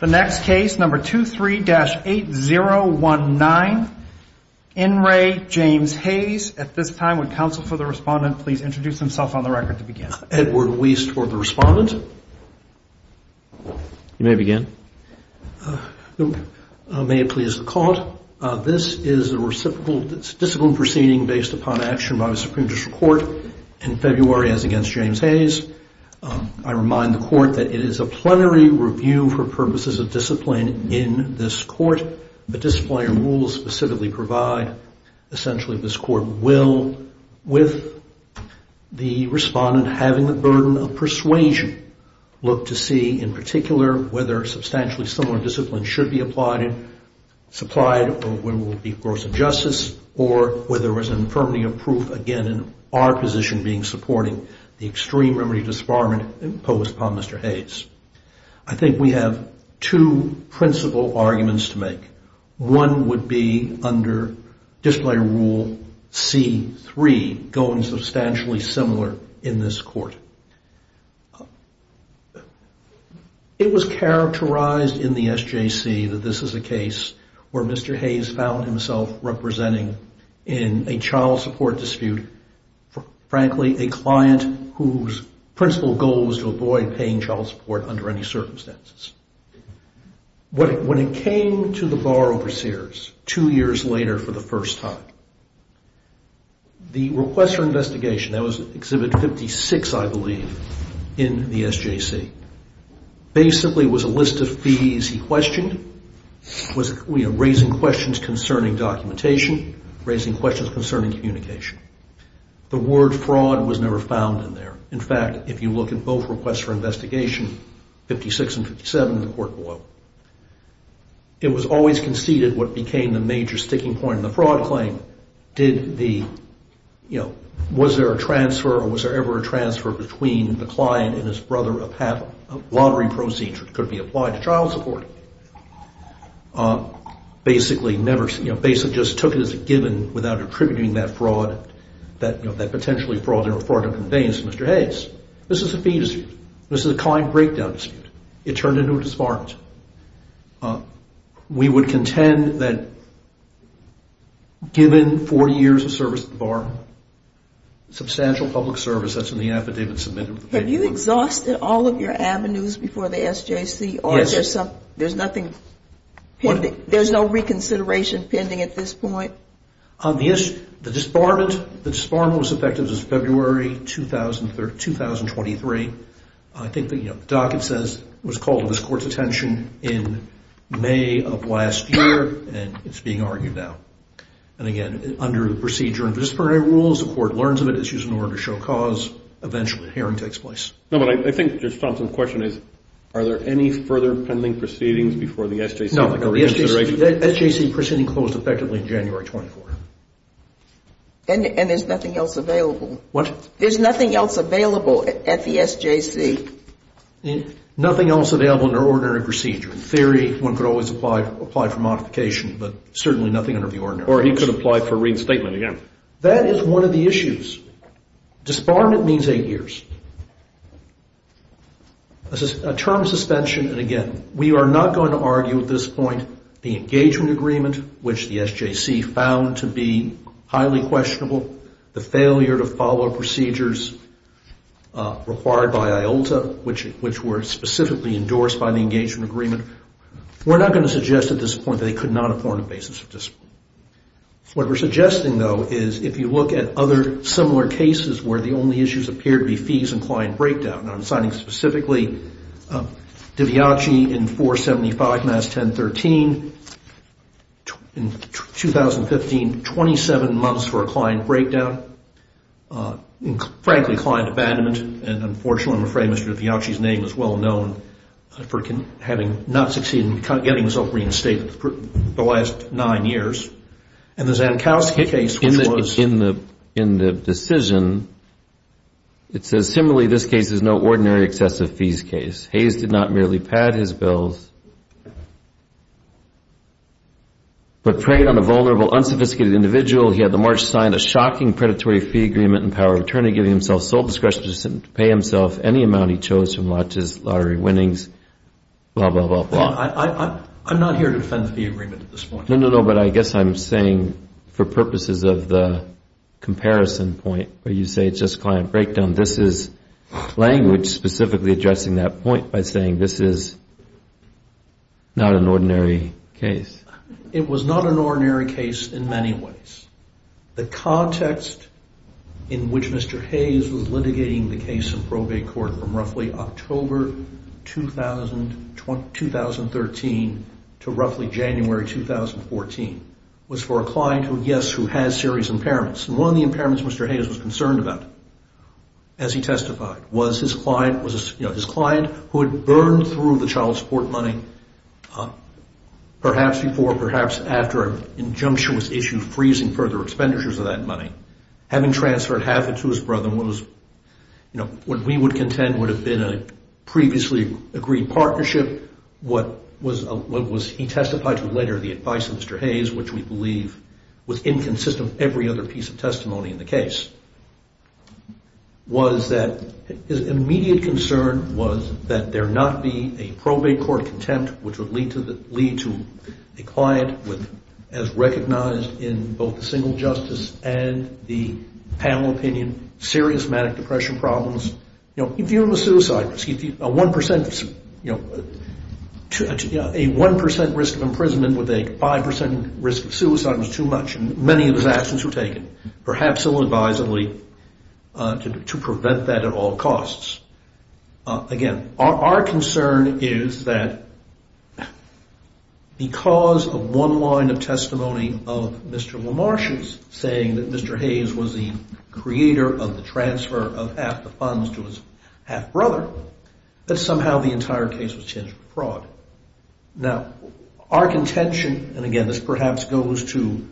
The next case, number 23-8019, In Re, James Hayes. At this time, would counsel for the respondent please introduce himself on the record to begin. Edward Weiss for the respondent. You may begin. May it please the Court, this is a reciprocal, it's a discipline proceeding based upon action by the Supreme Judicial Court in February as against James Hayes. I remind the Court that it is a plenary review for purposes of discipline in this Court. The disciplinary rules specifically provide, essentially, this Court will, with the respondent having the burden of persuasion, look to see, in particular, whether substantially similar discipline should be applied, supplied, or will be gross injustice, or whether there is an infirmity of proof, again, in our position being supporting the extreme remedy disbarment imposed upon Mr. Hayes. I think we have two principal arguments to make. One would be under disciplinary rule C-3, going substantially similar in this Court. It was characterized in the SJC that this is a case where Mr. Hayes found himself representing in a child support dispute, frankly, a client whose principal goal was to avoid paying child support under any circumstances. When it came to the borrower-seers two years later for the first time, the request for investigation, that was Exhibit 56, I believe, in the SJC, basically was a list of fees he questioned, was raising questions concerning documentation, raising questions concerning communication. The word fraud was never found in there. In fact, if you look at both requests for investigation, 56 and 57 in the Court below, it was always conceded what became the major sticking point in the fraud claim, was there a transfer or was there ever a transfer between the client and his brother or a lottery proceed could be applied to child support? Basically, just took it as a given without attributing that fraud, that potentially fraud or a fraud of conveyance to Mr. Hayes. This is a fee dispute. This is a client breakdown dispute. It turned into a disbarment. We would contend that given 40 years of service at the bar, substantial public service, that's in the affidavit submitted. Have you exhausted all of your avenues before the SJC? There's no reconsideration pending at this point? The disbarment was effective February 2023. I think the docket says it was called to this Court's attention in May of last year, and it's being argued now. Again, under the procedure and disciplinary rules, the Court learns of it, eventually a hearing takes place. No, but I think Judge Thompson's question is, are there any further pending proceedings before the SJC? No, the SJC proceeding closed effectively January 24th. And there's nothing else available? What? There's nothing else available at the SJC? Nothing else available under ordinary procedure. In theory, one could always apply for modification, but certainly nothing under the ordinary procedure. Or he could apply for reinstatement again. That is one of the issues. Disbarment means eight years. A term of suspension, and again, we are not going to argue at this point the engagement agreement, which the SJC found to be highly questionable, the failure to follow procedures required by IOLTA, which were specifically endorsed by the engagement agreement. We're not going to suggest at this point that they could not have formed a basis for disbarment. What we're suggesting, though, is if you look at other similar cases where the only issues appear to be fees and client breakdown, and I'm citing specifically Diviace in 475 Mass 1013, in 2015, 27 months for a client breakdown, and frankly, client abandonment. And unfortunately, I'm afraid Mr. Diviace's name is well known for having not succeeded in getting himself reinstated for the last nine years. And the Zankowski case, which was... In the decision, it says, Similarly, this case is no ordinary excessive fees case. Hayes did not merely pad his bills, but preyed on a vulnerable, unsophisticated individual. He had the March signed, a shocking predatory fee agreement and power of attorney giving himself sole discretion to pay himself any amount he chose from his lottery winnings, blah, blah, blah, blah. I'm not here to defend the agreement at this point. No, no, no, but I guess I'm saying for purposes of the comparison point where you say it's just client breakdown, this is language specifically addressing that point by saying this is not an ordinary case. It was not an ordinary case in many ways. The context in which Mr. Hayes was litigating the case in probate court from roughly October 2013 to roughly January 2014 was for a client who, yes, who has serious impairments. And one of the impairments Mr. Hayes was concerned about, as he testified, was his client who had burned through the child support money perhaps before, perhaps after an injunctious issue freezing further expenditures of that money. Having transferred half it to his brother, what we would contend would have been a previously agreed partnership. What he testified to later, the advice of Mr. Hayes, which we believe was inconsistent with every other piece of testimony in the case, was that his immediate concern was that there not be a probate court contempt, which would lead to a client with, as recognized in both the single justice and the panel opinion, serious manic depression problems. You know, if you have a suicide risk, a 1% risk of imprisonment with a 5% risk of suicide was too much. Many of his actions were taken, perhaps ill-advisedly, to prevent that at all costs. Again, our concern is that because of one line of testimony of Mr. LaMarche's saying that Mr. Hayes was the creator of the transfer of half the funds to his half-brother, that somehow the entire case was changed for fraud. Now, our contention, and again this perhaps goes to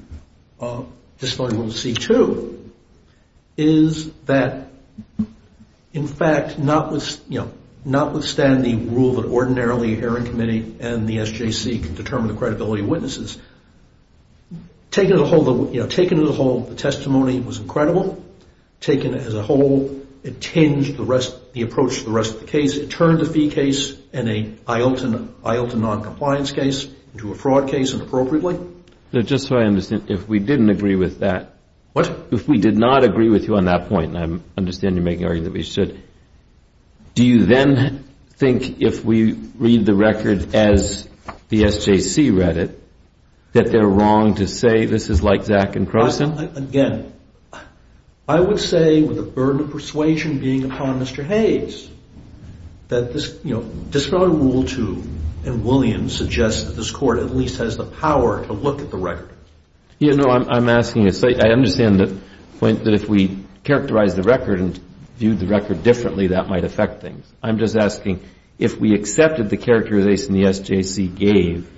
Disciplinary Rule C-2, is that, in fact, not withstand the rule that ordinarily a hearing committee and the SJC can determine the credibility of witnesses. Taken as a whole, the testimony was incredible. Taken as a whole, it tinged the approach to the rest of the case. It turned a fee case and an IELTS and noncompliance case into a fraud case inappropriately. Just so I understand, if we didn't agree with that, if we did not agree with you on that point, and I understand you're making the argument that we should, do you then think if we read the record as the SJC read it, that they're wrong to say this is like Zak and Croson? Again, I would say, with the burden of persuasion being upon Mr. Hayes, that this, you know, Disciplinary Rule 2 and Williams suggests that this Court at least has the power to look at the record. Yeah, no, I'm asking, I understand the point that if we characterize the record and viewed the record differently, that might affect things. I'm just asking, if we accepted the characterization the SJC gave,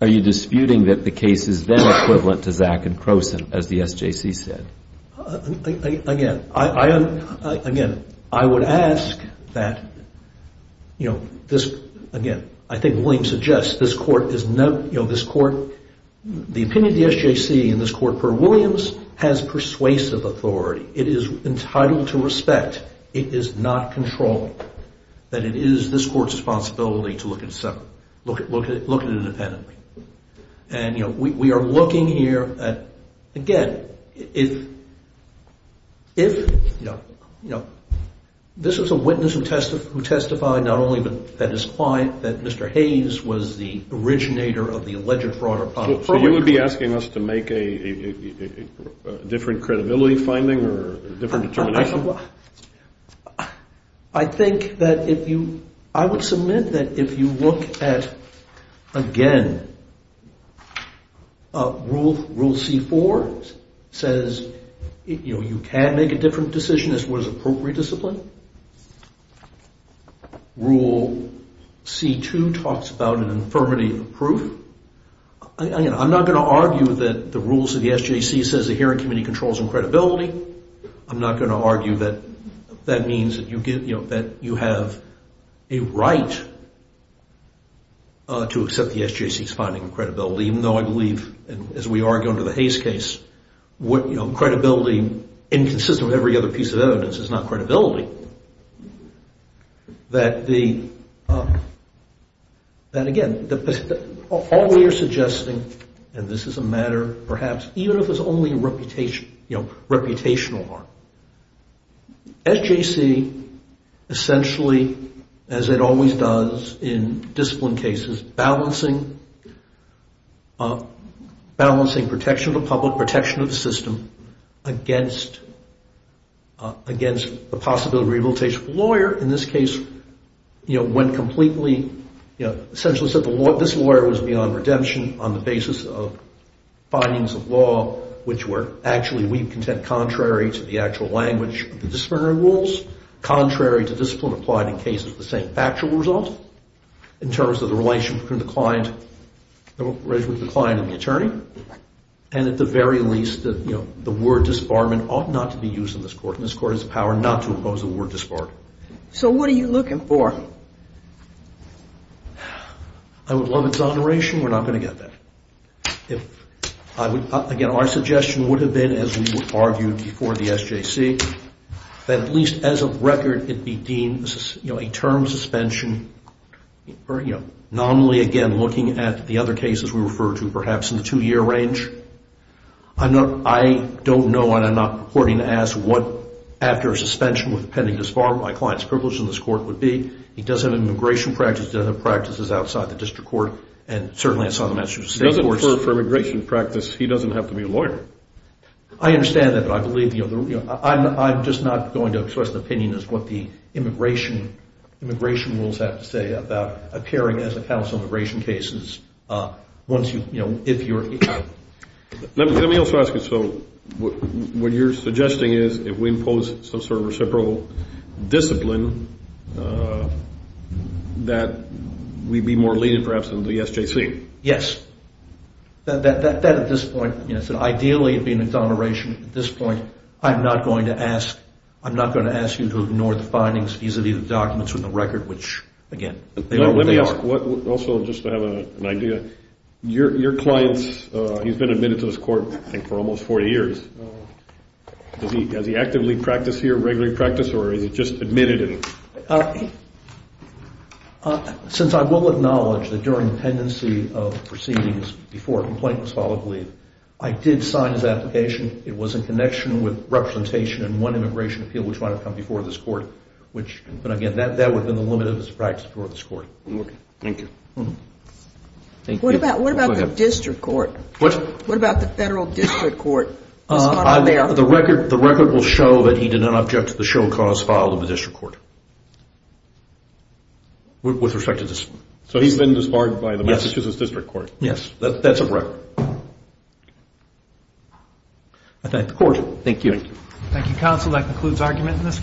are you disputing that the case is then equivalent to Zak and Croson, as the SJC said? Again, I would ask that, you know, this, again, I think Williams suggests this Court is, you know, this Court, the opinion of the SJC in this Court per Williams has persuasive authority. It is entitled to respect. It is not controlling. That it is this Court's responsibility to look at it separately, look at it independently. And, you know, we are looking here at, again, if, you know, this is a witness who testified not only that his client, that Mr. Hayes was the originator of the alleged fraud or public fraud. So you would be asking us to make a different credibility finding or different determination? I think that if you, I would submit that if you look at, again, Rule C-4 says, you know, you can make a different decision as far as appropriate discipline. Rule C-2 talks about an infirmity of proof. Again, I'm not going to argue that the rules of the SJC says the hearing committee controls on credibility. I'm not going to argue that that means that you get, you know, that you have a right to accept the SJC's finding of credibility, even though I believe, as we argue under the Hayes case, what, you know, credibility inconsistent with every other piece of evidence is not credibility. That the, that again, all we are suggesting, and this is a matter, perhaps, even if it's only reputation, you know, reputational harm. SJC essentially, as it always does in discipline cases, balancing protection of the public, protection of the system, against the possibility of rehabilitation of the lawyer. In this case, you know, when completely, you know, essentially said the law, this lawyer was beyond redemption on the basis of findings of law, which were actually, we contend, contrary to the actual language of the disciplinary rules, contrary to discipline applied in cases of the same factual result, in terms of the relation between the client, the relation between the client and the attorney, and at the very least, you know, the word disbarment ought not to be used in this court, and this court has the power not to oppose the word disbarment. So what are you looking for? I would love exoneration. We're not going to get that. If I would, again, our suggestion would have been, as we would argue before the SJC, that at least as a record, it be deemed, you know, a term suspension, or, you know, nominally, again, looking at the other cases we refer to, perhaps in the two-year range. I don't know, and I'm not purporting to ask what after a suspension with pending disbarment my client's privilege in this court would be. He does have immigration practice. He does have practices outside the district court, and certainly it's on the Massachusetts State Courts. He doesn't, for immigration practice, he doesn't have to be a lawyer. I understand that, but I believe the other, you know, I'm just not going to express an opinion as to what the immigration rules have to say about appearing as a counsel in immigration cases once you, you know, if you're... Let me also ask you, so what you're suggesting is, if we impose some sort of reciprocal discipline, that we'd be more lenient perhaps than the SJC? Yes. That at this point, you know, ideally it would be an exoneration. At this point, I'm not going to ask, I'm not going to ask you to ignore the findings vis-a-vis the documents from the record, which, again, they are what they are. I'd like also just to have an idea. Your client's, he's been admitted to this court, I think, for almost 40 years. Does he actively practice here, regularly practice, or is he just admitted? Since I will acknowledge that during the pendency of proceedings, before a complaint was filed, I believe, I did sign his application. It was in connection with representation in one immigration appeal, which might have come before this court, which, but again, that would have been the limit of his practice before this court. Okay. Thank you. Thank you. What about the district court? What? What about the federal district court? The record will show that he did not object to the show cause filed in the district court. With respect to this. So he's been disbarred by the Massachusetts district court? Yes. That's a record. I thank the court. Thank you. Thank you, counsel. That concludes argument in this case.